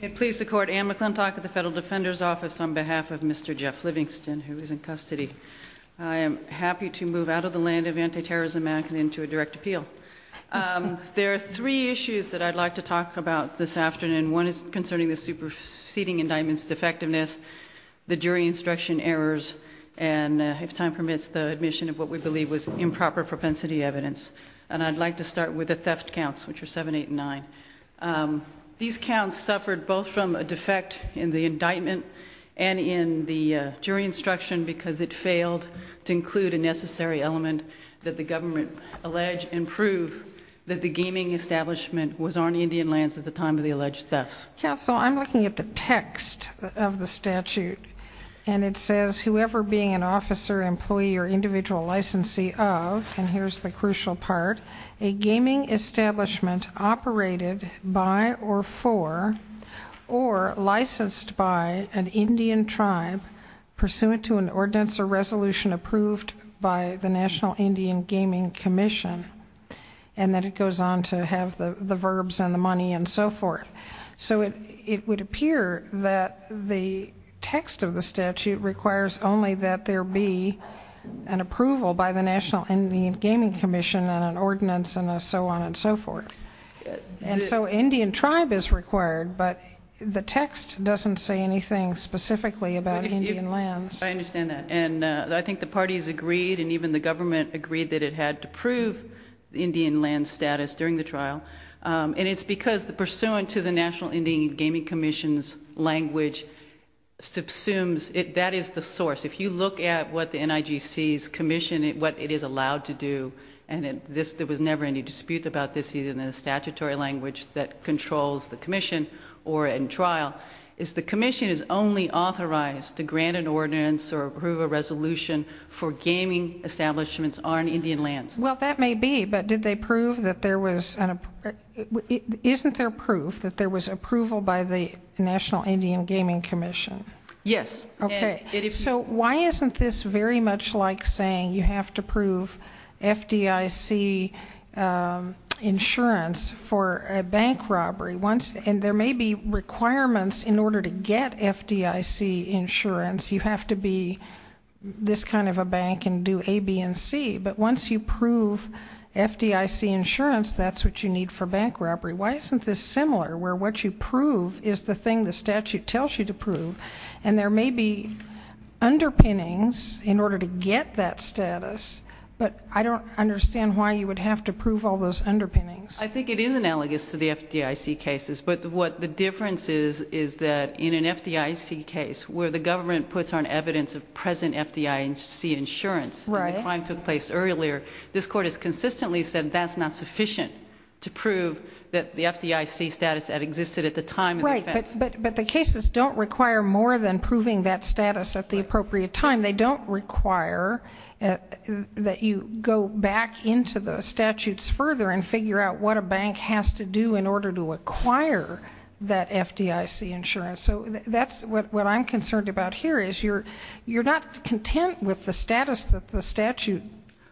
It pleases the Court, Anne McClintock of the Federal Defender's Office on behalf of Mr. Jeff Livingston, who is in custody. I am happy to move out of the land of anti-terrorism manhunt into a direct appeal. There are three issues that I'd like to talk about this afternoon. One is concerning the superseding indictment's defectiveness, the jury instruction errors, and, if time permits, the admission of what we believe was improper propensity evidence. And I'd like to start with the theft counts, which are 7, 8, and 9. These counts suffered both from a defect in the indictment and in the jury instruction because it failed to include a necessary element that the government alleged and proved that the gaming establishment was on Indian lands at the time of the alleged thefts. Counsel, I'm looking at the text of the statute, and it says, whoever being an officer, employee, or individual licensee of, and here's the crucial part, a gaming establishment operated by or for or licensed by an Indian tribe pursuant to an ordinance or resolution approved by the National Indian Gaming Commission, and then it goes on to have the verbs and the money and so forth. So it would appear that the text of the statute requires only that there be an approval by the National Indian Gaming Commission and an ordinance and so on and so forth. And so Indian tribe is required, but the text doesn't say anything specifically about Indian lands. I understand that. And I think the parties agreed, and even the government agreed, that it had to prove the Indian land status during the trial. And it's because pursuant to the National Indian Gaming Commission's language, that is the source. If you look at what the NIGC's commission, what it is allowed to do, and there was never any dispute about this either in the statutory language that controls the commission or in trial, is the commission is only authorized to grant an ordinance or approve a resolution for gaming establishments on Indian lands. Well, that may be, but did they prove that there was an, isn't there proof that there was approval by the National Indian Gaming Commission? Yes. Okay. So why isn't this very much like saying you have to prove FDIC insurance for a bank robbery? And there may be requirements in order to get FDIC insurance. You have to be this kind of a bank and do A, B, and C. But once you prove FDIC insurance, that's what you need for bank robbery. Why isn't this similar where what you prove is the thing the statute tells you to prove and there may be underpinnings in order to get that status, but I don't understand why you would have to prove all those underpinnings. I think it is analogous to the FDIC cases, but what the difference is is that in an FDIC case where the government puts on evidence of present FDIC insurance and the crime took place earlier, this court has consistently said that's not sufficient to prove that the FDIC status had existed at the time of the offense. But the cases don't require more than proving that status at the appropriate time. They don't require that you go back into the statutes further and figure out what a bank has to do in order to acquire that FDIC insurance. So that's what I'm concerned about here is you're not content with the status that the statute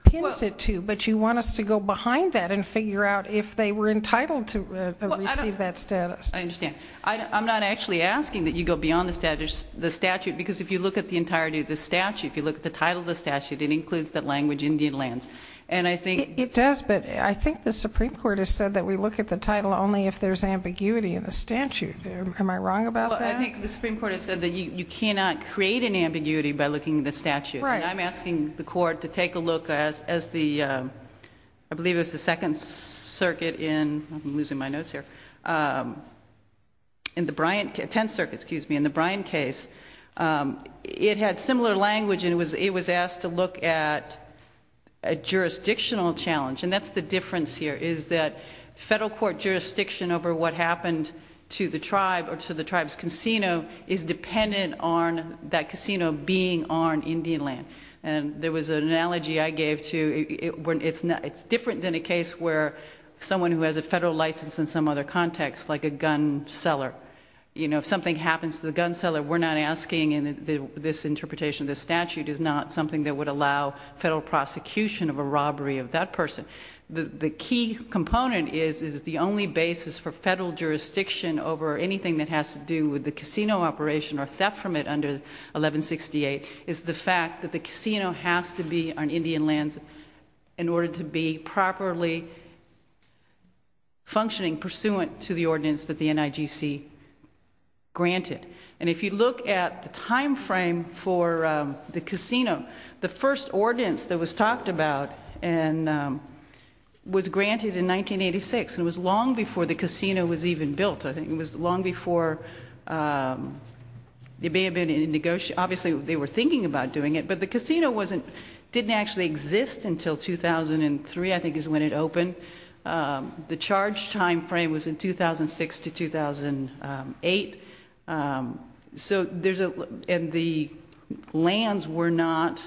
pins it to, but you want us to go behind that and figure out if they were entitled to receive that status. I understand. I'm not actually asking that you go beyond the statute because if you look at the entirety of the statute, if you look at the title of the statute, it includes the language Indian lands. It does, but I think the Supreme Court has said that we look at the title only if there's ambiguity in the statute. Am I wrong about that? I think the Supreme Court has said that you cannot create an ambiguity by looking at the statute. Right. And I'm asking the court to take a look as the, I believe it was the Second Circuit in, I'm losing my notes here, in the Bryant, Tenth Circuit, excuse me, in the Bryant case, it had similar language and it was asked to look at a jurisdictional challenge, and that's the difference here is that federal court jurisdiction over what happened to the tribe or to the tribe's casino is dependent on that casino being on Indian land. And there was an analogy I gave to, it's different than a case where someone who has a federal license in some other context, like a gun seller, you know, if something happens to the gun seller, we're not asking, and this interpretation of the statute is not something that would allow federal prosecution of a robbery of that person. The key component is, is the only basis for federal jurisdiction over anything that has to do with the casino operation or theft from it under 1168 is the fact that the casino has to be on Indian lands in order to be properly functioning pursuant to the ordinance that the NIGC granted. And if you look at the time frame for the casino, the first ordinance that was talked about was granted in 1986, and it was long before the casino was even built. I think it was long before, it may have been in negotiation, obviously they were thinking about doing it, but the casino didn't actually exist until 2003 I think is when it opened. The charge time frame was in 2006 to 2008. And the lands were not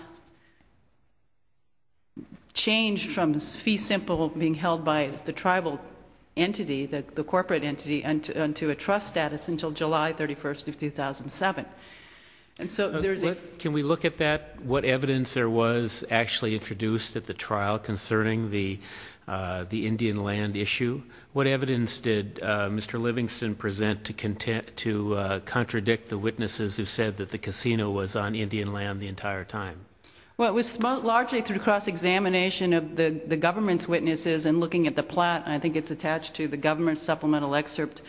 changed from fee simple being held by the tribal entity, the corporate entity, unto a trust status until July 31st of 2007. Can we look at that, what evidence there was actually introduced at the trial concerning the Indian land issue? What evidence did Mr. Livingston present to contradict the witnesses who said that the casino was on Indian land the entire time? Well, it was largely through cross-examination of the government's witnesses and looking at the plat, and I think it's attached to the government supplemental excerpt.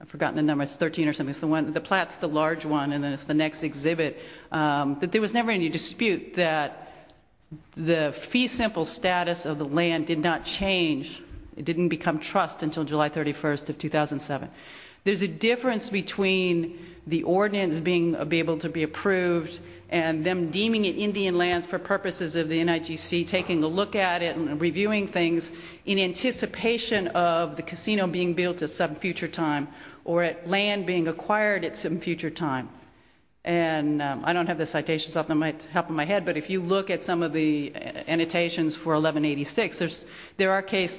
I've forgotten the number, it's 13 or something. The plat's the large one and then it's the next exhibit. But there was never any dispute that the fee simple status of the land did not change. It didn't become trust until July 31st of 2007. There's a difference between the ordinance being able to be approved and them deeming it Indian land for purposes of the NIGC taking a look at it and reviewing things in anticipation of the casino being built at some future time or land being acquired at some future time. And I don't have the citations off the top of my head, but if you look at some of the annotations for 1186, there are cases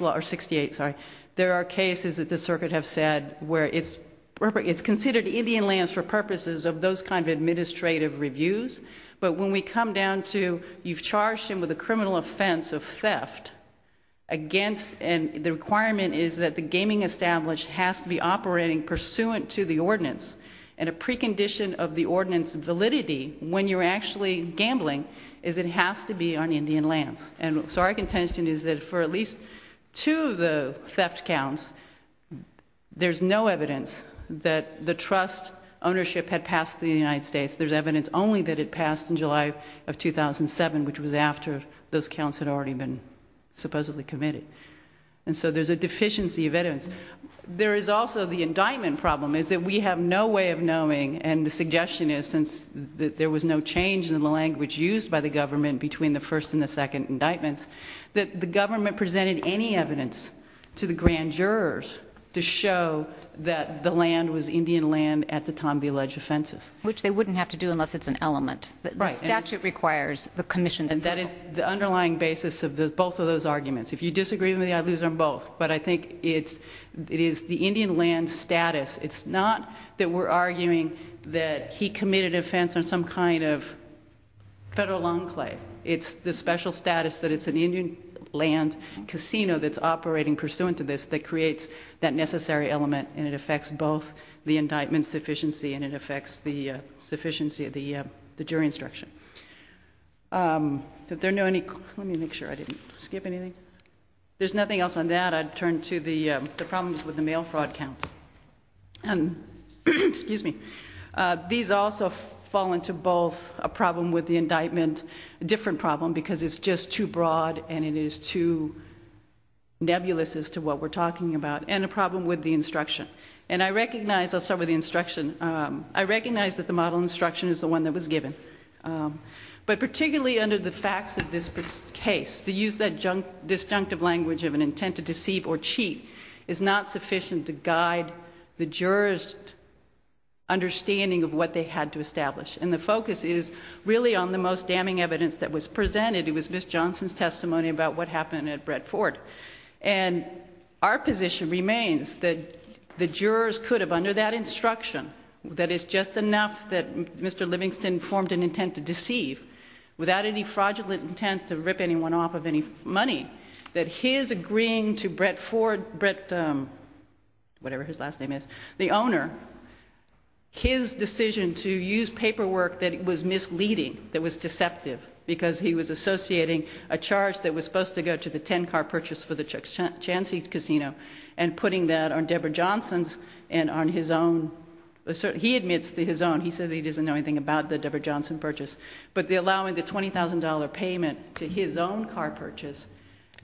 that the circuit have said where it's considered Indian lands for purposes of those kind of administrative reviews. But when we come down to you've charged him with a criminal offense of theft against and the requirement is that the gaming established has to be operating pursuant to the ordinance. And a precondition of the ordinance validity when you're actually gambling is it has to be on Indian lands. And so our contention is that for at least two of the theft counts, there's no evidence that the trust ownership had passed to the United States. There's evidence only that it passed in July of 2007, which was after those counts had already been supposedly committed. And so there's a deficiency of evidence. There is also the indictment problem is that we have no way of knowing, and the suggestion is since there was no change in the language used by the government between the first and the second indictments, that the government presented any evidence to the grand jurors to show that the land was Indian land at the time of the alleged offenses. Which they wouldn't have to do unless it's an element. The statute requires the commission. And that is the underlying basis of both of those arguments. If you disagree with me, I'd lose on both. But I think it is the Indian land status. It's not that we're arguing that he committed offense on some kind of federal enclave. It's the special status that it's an Indian land casino that's operating pursuant to this that creates that necessary element, and it affects both the indictment's sufficiency and it affects the sufficiency of the jury instruction. Let me make sure I didn't skip anything. If there's nothing else on that, I'd turn to the problems with the mail fraud counts. And these also fall into both a problem with the indictment, a different problem because it's just too broad and it is too nebulous as to what we're talking about, and a problem with the instruction. And I recognize, I'll start with the instruction. I recognize that the model instruction is the one that was given. But particularly under the facts of this case, the use of that disjunctive language of an intent to deceive or cheat is not sufficient to guide the jurors' understanding of what they had to establish. And the focus is really on the most damning evidence that was presented. It was Ms. Johnson's testimony about what happened at Brett Ford. And our position remains that the jurors could have, under that instruction, that it's just enough that Mr. Livingston formed an intent to deceive without any fraudulent intent to rip anyone off of any money, that his agreeing to Brett Ford, whatever his last name is, the owner, his decision to use paperwork that was misleading, that was deceptive, because he was associating a charge that was supposed to go to the 10-car purchase for the Chansey Casino and putting that on Deborah Johnson's and on his own. He admits to his own. He says he doesn't know anything about the Deborah Johnson purchase. But allowing the $20,000 payment to his own car purchase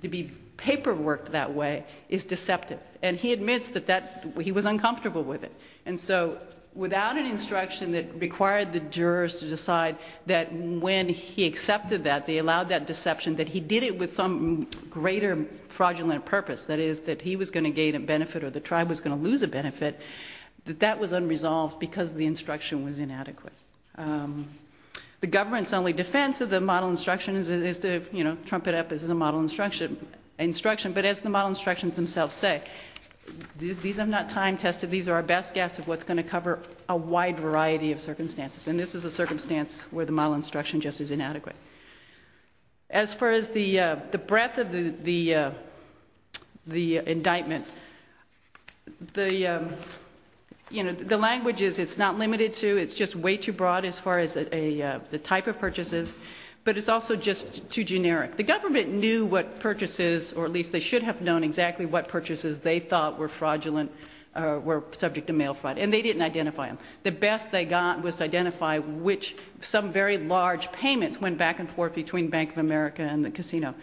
to be paperworked that way is deceptive, and he admits that he was uncomfortable with it. And so without an instruction that required the jurors to decide that when he accepted that, they allowed that deception, that he did it with some greater fraudulent purpose, that is that he was going to gain a benefit or the tribe was going to lose a benefit, that that was unresolved because the instruction was inadequate. The government's only defense of the model instruction is to, you know, trump it up as a model instruction. But as the model instructions themselves say, these are not time-tested. These are our best guess of what's going to cover a wide variety of circumstances. And this is a circumstance where the model instruction just is inadequate. As far as the breadth of the indictment, the language is it's not limited to, it's just way too broad as far as the type of purchases, but it's also just too generic. The government knew what purchases, or at least they should have known exactly what purchases they thought were fraudulent or were subject to mail fraud, and they didn't identify them. The best they got was to identify which some very large payments went back and forth between Bank of America and the casino.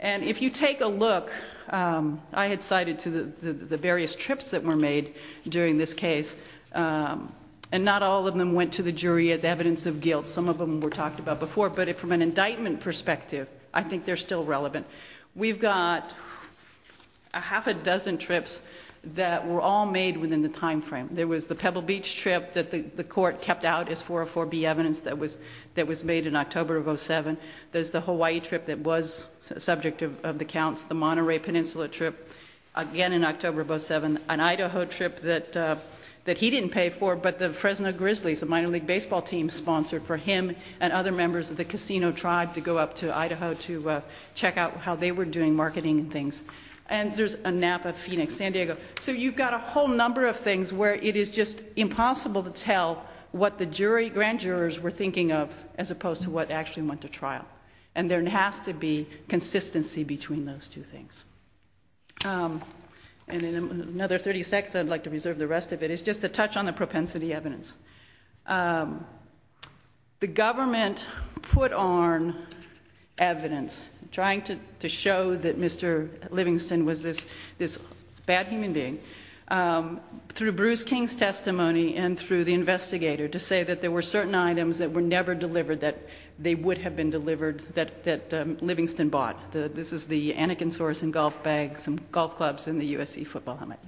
And if you take a look, I had cited the various trips that were made during this case, and not all of them went to the jury as evidence of guilt. Some of them were talked about before, but from an indictment perspective, I think they're still relevant. We've got a half a dozen trips that were all made within the time frame. There was the Pebble Beach trip that the court kept out as 404B evidence that was made in October of 2007. There's the Hawaii trip that was subject of the counts, the Monterey Peninsula trip, again in October of 2007, an Idaho trip that he didn't pay for, but the Fresno Grizzlies, a minor league baseball team, sponsored for him and other members of the casino tribe to go up to Idaho to check out how they were doing marketing and things. And there's a Napa, Phoenix, San Diego. So you've got a whole number of things where it is just impossible to tell what the jury grand jurors were thinking of as opposed to what actually went to trial. And there has to be consistency between those two things. And in another 30 seconds, I'd like to reserve the rest of it. It's just a touch on the propensity evidence. The government put on evidence, trying to show that Mr. Livingston was this bad human being, through Bruce King's testimony and through the investigator, to say that there were certain items that were never delivered, that they would have been delivered, that Livingston bought. This is the Anakin Soreson golf bag, some golf clubs, and the USC football helmet.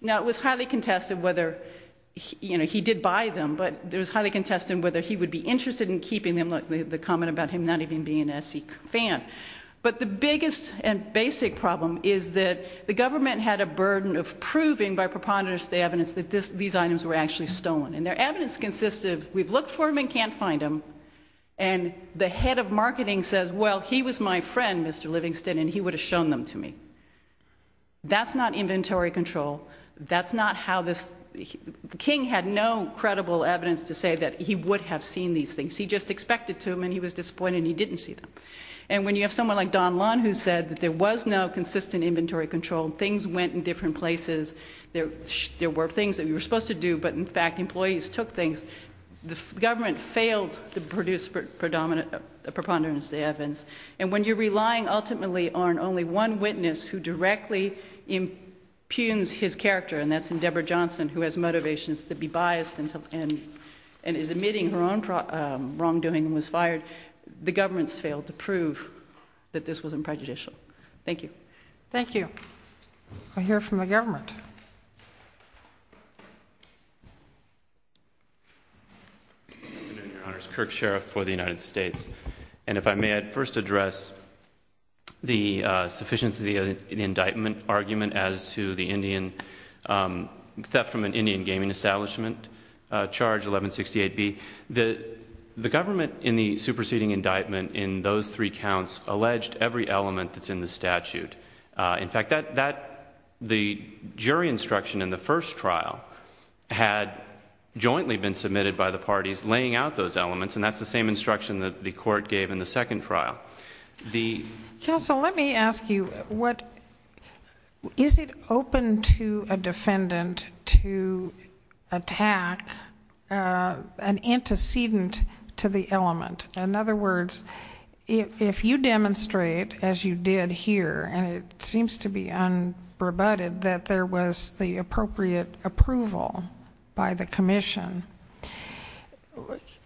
Now, it was highly contested whether he did buy them, but it was highly contested whether he would be interested in keeping them, the comment about him not even being an SC fan. But the biggest and basic problem is that the government had a burden of proving by preponderance the evidence that these items were actually stolen. And their evidence consists of, we've looked for them and can't find them, and the head of marketing says, well, he was my friend, Mr. Livingston, and he would have shown them to me. That's not inventory control. That's not how this... King had no credible evidence to say that he would have seen these things. He just expected to, and he was disappointed he didn't see them. And when you have someone like Don Lund who said that there was no consistent inventory control, things went in different places, there were things that we were supposed to do, but, in fact, employees took things, the government failed to produce preponderance of the evidence. And when you're relying ultimately on only one witness who directly impugns his character, and that's Endeavor Johnson, who has motivations to be biased and is admitting her own wrongdoing and was fired, the government's failed to prove that this wasn't prejudicial. Thank you. Thank you. I hear from the government. Good afternoon, Your Honor. It's Kirk Sheriff for the United States. And if I may, I'd first address the sufficiency of the indictment argument as to the theft from an Indian gaming establishment, Charge 1168B. The government, in the superseding indictment, in those three counts alleged every element that's in the statute. In fact, the jury instruction in the first trial had jointly been submitted by the parties laying out those elements, and that's the same instruction that the court gave in the second trial. Counsel, let me ask you, is it open to a defendant to attack an antecedent to the element? In other words, if you demonstrate, as you did here, and it seems to be unrebutted that there was the appropriate approval by the commission,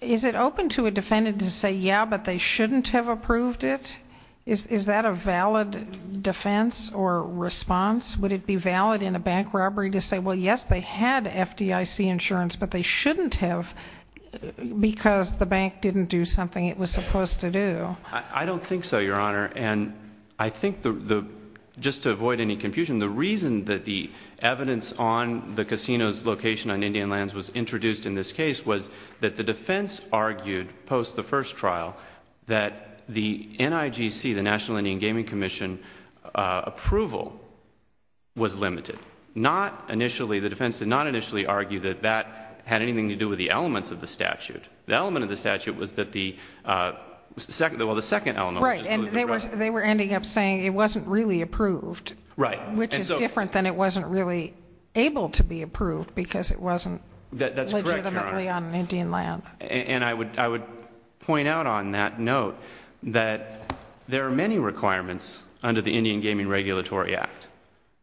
is it open to a defendant to say, yeah, but they shouldn't have approved it? Is that a valid defense or response? Would it be valid in a bank robbery to say, well, yes, they had FDIC insurance, but they shouldn't have because the bank didn't do something it was supposed to do? I don't think so, Your Honor. And I think just to avoid any confusion, the reason that the evidence on the casino's location on Indian lands was introduced in this case was that the defense argued post the first trial that the NIGC, the National Indian Gaming Commission, approval was limited. The defense did not initially argue that that had anything to do with the elements of the statute. The element of the statute was that the second element... Right, and they were ending up saying it wasn't really approved, which is different than it wasn't really able to be approved because it wasn't legitimately on Indian land. That's correct, Your Honor, and I would point out on that note that there are many requirements under the Indian Gaming Regulatory Act,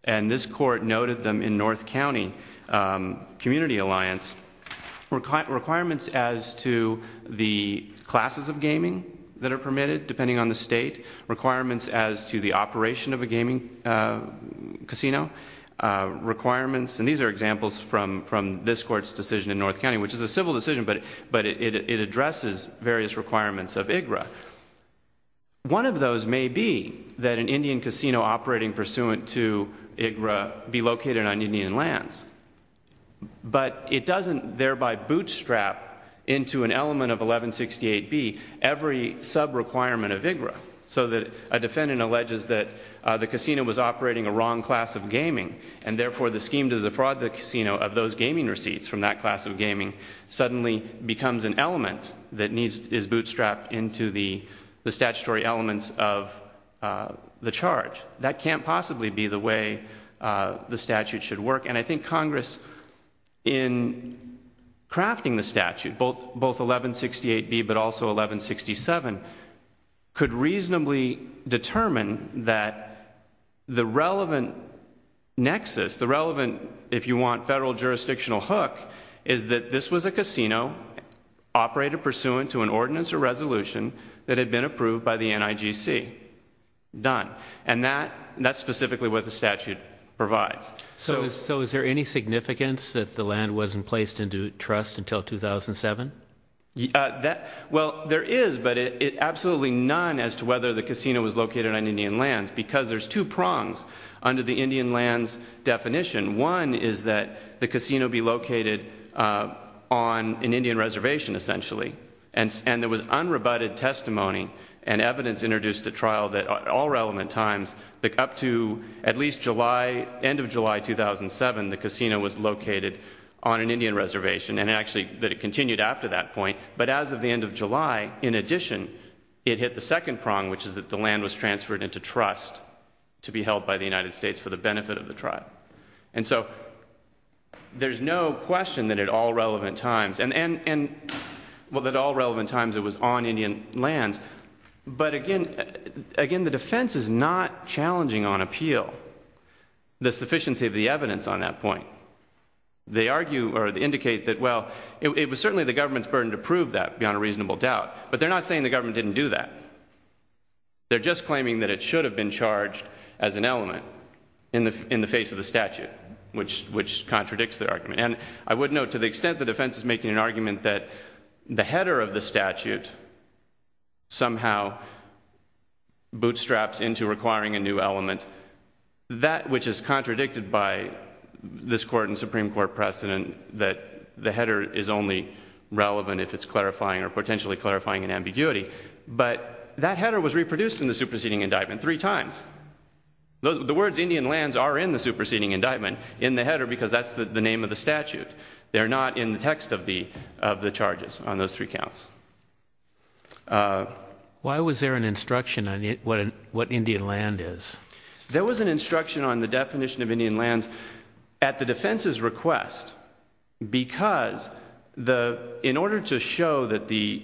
and this court noted them in North County Community Alliance. Requirements as to the classes of gaming that are permitted, depending on the state, requirements as to the operation of a gaming casino, requirements, and these are examples from this court's decision in North County, which is a civil decision, but it addresses various requirements of IGRA. One of those may be that an Indian casino operating pursuant to IGRA be located on Indian lands, but it doesn't thereby bootstrap into an element of 1168B every sub-requirement of IGRA. So a defendant alleges that the casino was operating a wrong class of gaming, and therefore the scheme to defraud the casino of those gaming receipts from that class of gaming suddenly becomes an element that is bootstrapped into the statutory elements of the charge. That can't possibly be the way the statute should work, and I think Congress, in crafting the statute, both 1168B but also 1167, could reasonably determine that the relevant nexus, the relevant, if you want, federal jurisdictional hook, is that this was a casino operated pursuant to an ordinance or resolution that had been approved by the NIGC. Done. And that's specifically what the statute provides. So is there any significance that the land wasn't placed into trust until 2007? Well, there is, but absolutely none as to whether the casino was located on Indian lands because there's two prongs under the Indian lands definition. One is that the casino be located on an Indian reservation, essentially, and there was unrebutted testimony and evidence introduced at trial that at all relevant times, up to at least end of July 2007, the casino was located on an Indian reservation and actually that it continued after that point, but as of the end of July, in addition, it hit the second prong, which is that the land was transferred into trust to be held by the United States for the benefit of the tribe. And so there's no question that at all relevant times, and, well, at all relevant times it was on Indian lands, but, again, the defense is not challenging on appeal the sufficiency of the evidence on that point. They argue or indicate that, well, it was certainly the government's burden to prove that beyond a reasonable doubt, but they're not saying the government didn't do that. They're just claiming that it should have been charged as an element in the face of the statute, which contradicts their argument. And I would note, to the extent the defense is making an argument that the header of the statute somehow bootstraps into requiring a new element, that which is contradicted by this Court and Supreme Court precedent that the header is only relevant if it's clarifying or potentially clarifying an ambiguity, but that header was reproduced in the superseding indictment three times. The words Indian lands are in the superseding indictment, in the header, because that's the name of the statute. They're not in the text of the charges on those three counts. Why was there an instruction on what Indian land is? There was an instruction on the definition of Indian lands at the defense's request, because in order to show that the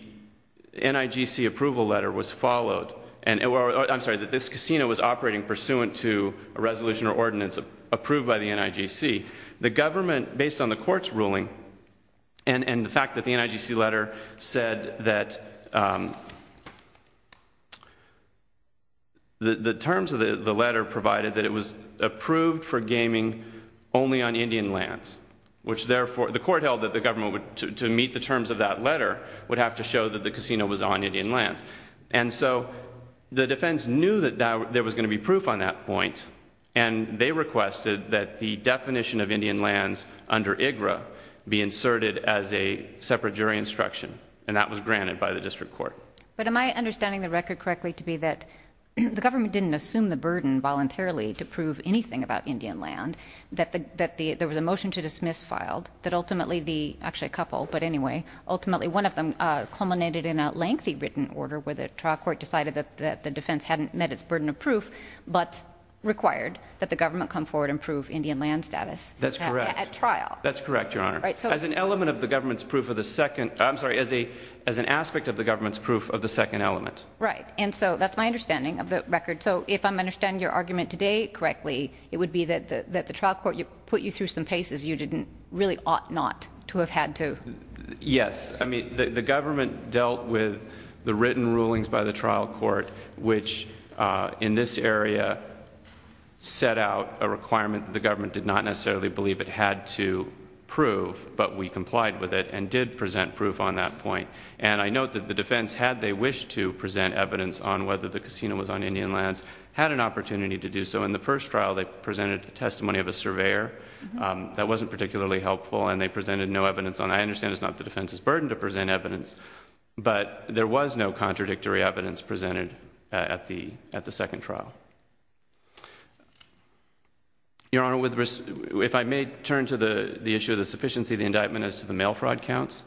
NIGC approval letter was followed, I'm sorry, that this casino was operating pursuant to a resolution or ordinance approved by the NIGC, the government, based on the Court's ruling and the fact that the NIGC letter said that the terms of the letter provided that it was approved for gaming only on Indian lands, which therefore, the Court held that the government, to meet the terms of that letter, would have to show that the casino was on Indian lands. And so the defense knew that there was going to be proof on that point, and they requested that the definition of Indian lands under IGRA be inserted as a separate jury instruction, and that was granted by the district court. But am I understanding the record correctly to be that the government didn't assume the burden voluntarily to prove anything about Indian land, that there was a motion to dismiss filed, that ultimately the, actually a couple, but anyway, ultimately one of them culminated in a lengthy written order where the trial court decided that the defense hadn't met its burden of proof, but required that the government come forward and prove Indian land status. That's correct. At trial. That's correct, Your Honor. As an element of the government's proof of the second, I'm sorry, as an aspect of the government's proof of the second element. Right. And so that's my understanding of the record. So if I'm understanding your argument today correctly, it would be that the trial court put you through some paces you really ought not to have had to... Yes. I mean, the government dealt with the written rulings by the trial court, which in this area set out a requirement that the government did not necessarily believe it had to prove, but we complied with it and did present proof on that point. And I note that the defense, had they wished to present evidence on whether the casino was on Indian lands, had an opportunity to do so. In the first trial, they presented a testimony of a surveyor. That wasn't particularly helpful, and they presented no evidence on it. I understand it's not the defense's burden to present evidence, but there was no contradictory evidence presented at the second trial. Your Honor, if I may turn to the issue of the sufficiency of the indictment as to the mail fraud counts.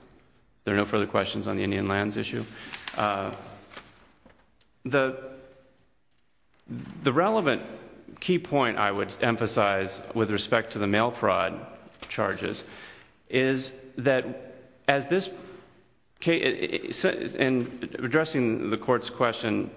There are no further questions on the Indian lands issue. The relevant key point I would emphasize with respect to the mail fraud charges is that as this case... And addressing the court's question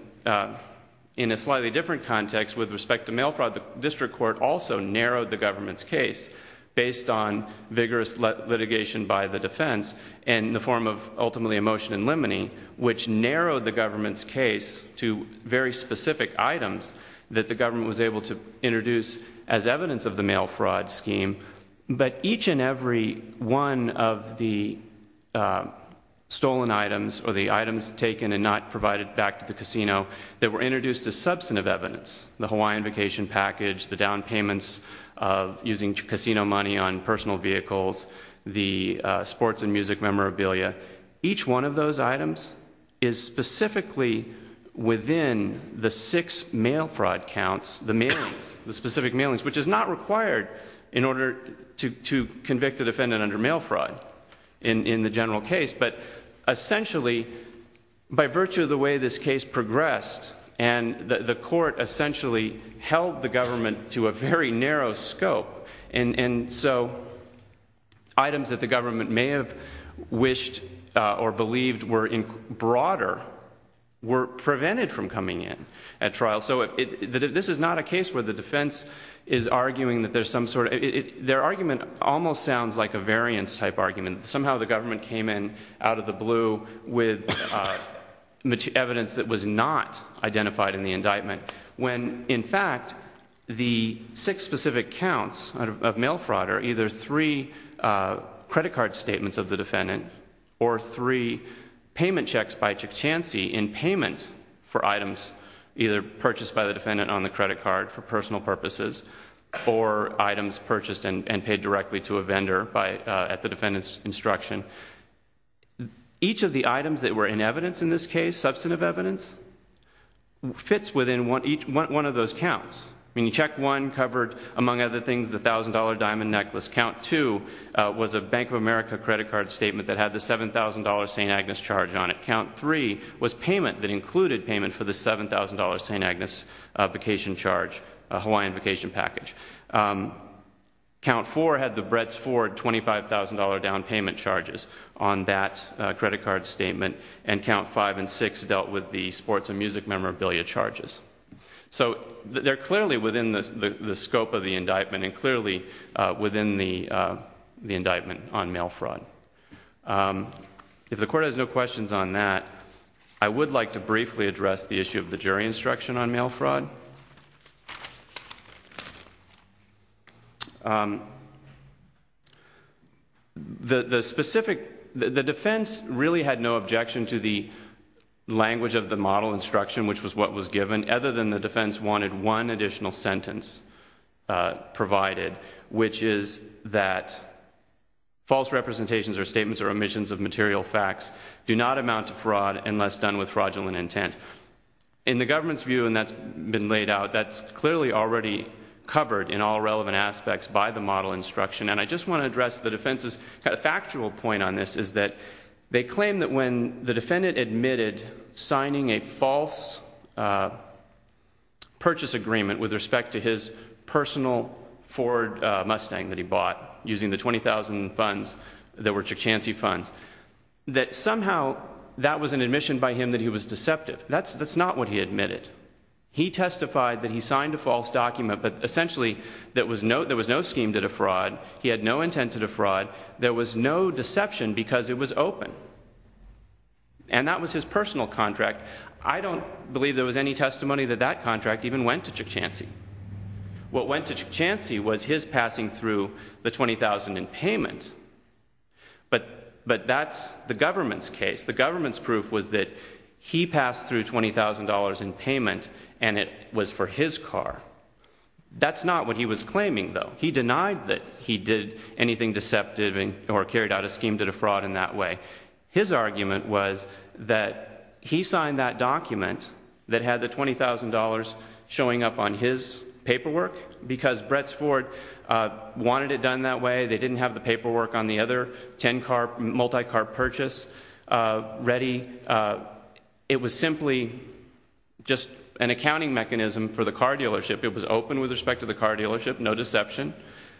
in a slightly different context, with respect to mail fraud, the district court also narrowed the government's case based on vigorous litigation by the defense in the form of ultimately a motion in limine, which narrowed the government's case to very specific items that the government was able to introduce as evidence of the mail fraud scheme. But each and every one of the stolen items or the items taken and not provided back to the casino that were introduced as substantive evidence, the Hawaiian vacation package, the down payments of using casino money on personal vehicles, the sports and music memorabilia, each one of those items is specifically within the six mail fraud counts, the mailings, the specific mailings, which is not required in order to convict a defendant under mail fraud in the general case, but essentially by virtue of the way this case progressed and the court essentially held the government to a very narrow scope, and so items that the government may have wished or believed were broader were prevented from coming in at trial. So this is not a case where the defense is arguing that there's some sort of... Their argument almost sounds like a variance type argument. Somehow the government came in out of the blue with evidence that was not identified in the indictment when, in fact, the six specific counts of mail fraud are either three credit card statements of the defendant or three payment checks by Chichance in payment for items either purchased by the defendant on the credit card for personal purposes or items purchased and paid directly to a vendor at the defendant's instruction. Each of the items that were in evidence in this case, substantive evidence, fits within one of those counts. I mean, check one covered, among other things, the $1,000 diamond necklace. Count two was a Bank of America credit card statement that had the $7,000 St. Agnes charge on it. Count three was payment that included payment for the $7,000 St. Agnes vacation charge, a Hawaiian vacation package. Count four had the Bretts Ford $25,000 down payment charges on that credit card statement. And count five and six dealt with the sports and music memorabilia charges. So they're clearly within the scope of the indictment and clearly within the indictment on mail fraud. If the court has no questions on that, I would like to briefly address the issue of the jury instruction on mail fraud. The defense really had no objection to the language of the model instruction, which was what was given, other than the defense wanted one additional sentence provided, which is that false representations or statements or omissions of material facts do not amount to fraud unless done with fraudulent intent. In the government's view, and that's been laid out, that's clearly already covered in all relevant aspects by the model instruction. And I just want to address the defense's kind of factual point on this, is that they claim that when the defendant admitted signing a false purchase agreement with respect to his personal Ford Mustang that he bought, using the $20,000 funds that were Chichance funds, that somehow that was an admission by him that he was deceptive. That's not what he admitted. He testified that he signed a false document, but essentially there was no scheme to defraud. He had no intent to defraud. There was no deception because it was open. And that was his personal contract. I don't believe there was any testimony that that contract even went to Chichance. What went to Chichance was his passing through the $20,000 in payment, but that's the government's case. The government's proof was that he passed through $20,000 in payment, and it was for his car. That's not what he was claiming, though. He denied that he did anything deceptive or carried out a scheme to defraud in that way. His argument was that he signed that document that had the $20,000 showing up on his paperwork because Bretts Ford wanted it done that way. They didn't have the paperwork on the other 10-car, multi-car purchase ready. It was simply just an accounting mechanism for the car dealership. It was open with respect to the car dealership, no deception.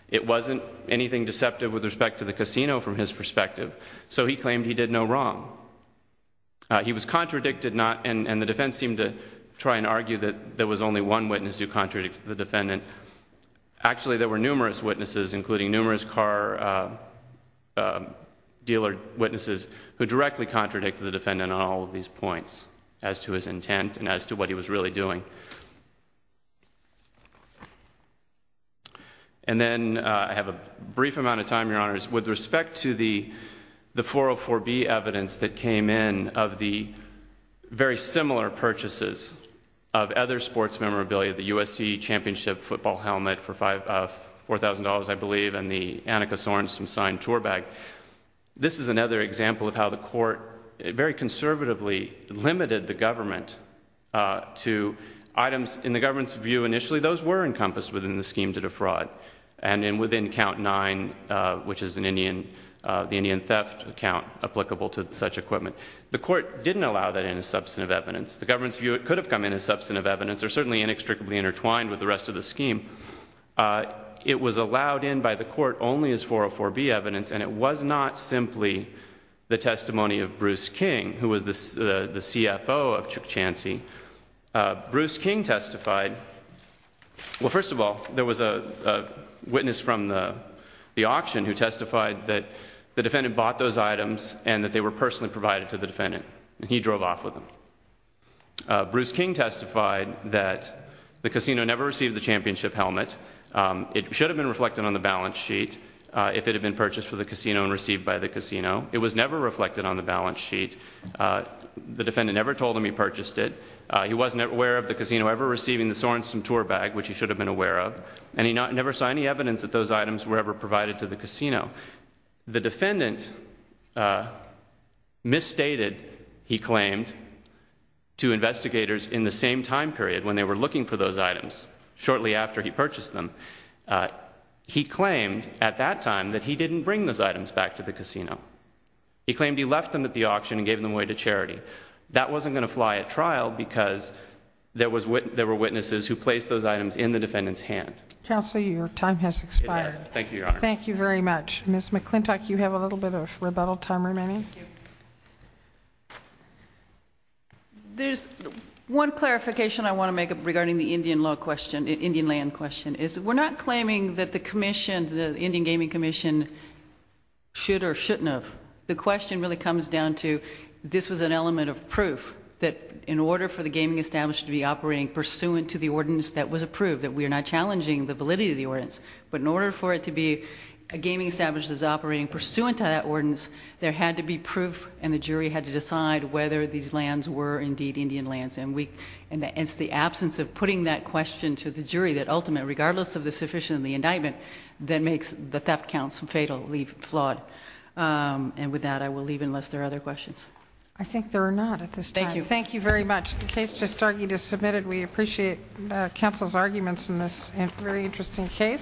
It wasn't anything deceptive with respect to the casino from his perspective. So he claimed he did no wrong. He was contradicted, and the defense seemed to try and argue that there was only one witness who contradicted the defendant. Actually, there were numerous witnesses, including numerous car dealer witnesses, who directly contradicted the defendant on all of these points as to his intent and as to what he was really doing. And then I have a brief amount of time, Your Honors. With respect to the 404B evidence that came in of the very similar purchases of other sports memorabilia, the USC championship football helmet for $4,000, I believe, and the Annika Sorensen-signed tour bag, this is another example of how the court very conservatively limited the government to items in the government's view initially. Those were encompassed within the scheme to defraud, and then within Count 9, which is the Indian theft account applicable to such equipment. The court didn't allow that in as substantive evidence. The government's view, it could have come in as substantive evidence. They're certainly inextricably intertwined with the rest of the scheme. It was allowed in by the court only as 404B evidence, and it was not simply the testimony of Bruce King, who was the CFO of Chansey. Bruce King testified. Well, first of all, there was a witness from the auction who testified that the defendant bought those items and that they were personally provided to the defendant, and he drove off with them. Bruce King testified that the casino never received the championship helmet. It should have been reflected on the balance sheet if it had been purchased for the casino and received by the casino. It was never reflected on the balance sheet. The defendant never told him he purchased it. He wasn't aware of the casino ever receiving the Sorensen tour bag, which he should have been aware of, and he never saw any evidence that those items were ever provided to the casino. The defendant misstated, he claimed, to investigators in the same time period when they were looking for those items, shortly after he purchased them. He claimed at that time that he didn't bring those items back to the casino. He claimed he left them at the auction and gave them away to charity. That wasn't going to fly at trial because there were witnesses who placed those items in the defendant's hand. Counsel, your time has expired. It has. Thank you, Your Honor. Thank you very much. Ms. McClintock, you have a little bit of rebuttal time remaining. There's one clarification I want to make regarding the Indian land question. We're not claiming that the Indian Gaming Commission should or shouldn't have. The question really comes down to this was an element of proof that in order for the gaming establishment to be operating pursuant to the ordinance that was approved, that we are not challenging the validity of the ordinance, but in order for it to be a gaming establishment that's operating pursuant to that ordinance, there had to be proof, and the jury had to decide whether these lands were indeed Indian lands. It's the absence of putting that question to the jury that ultimately, regardless of the sufficiency of the indictment, that makes the theft counts fatally flawed. And with that, I will leave unless there are other questions. I think there are not at this time. Thank you. Thank you very much. The case just argued is submitted. We appreciate counsel's arguments in this very interesting case.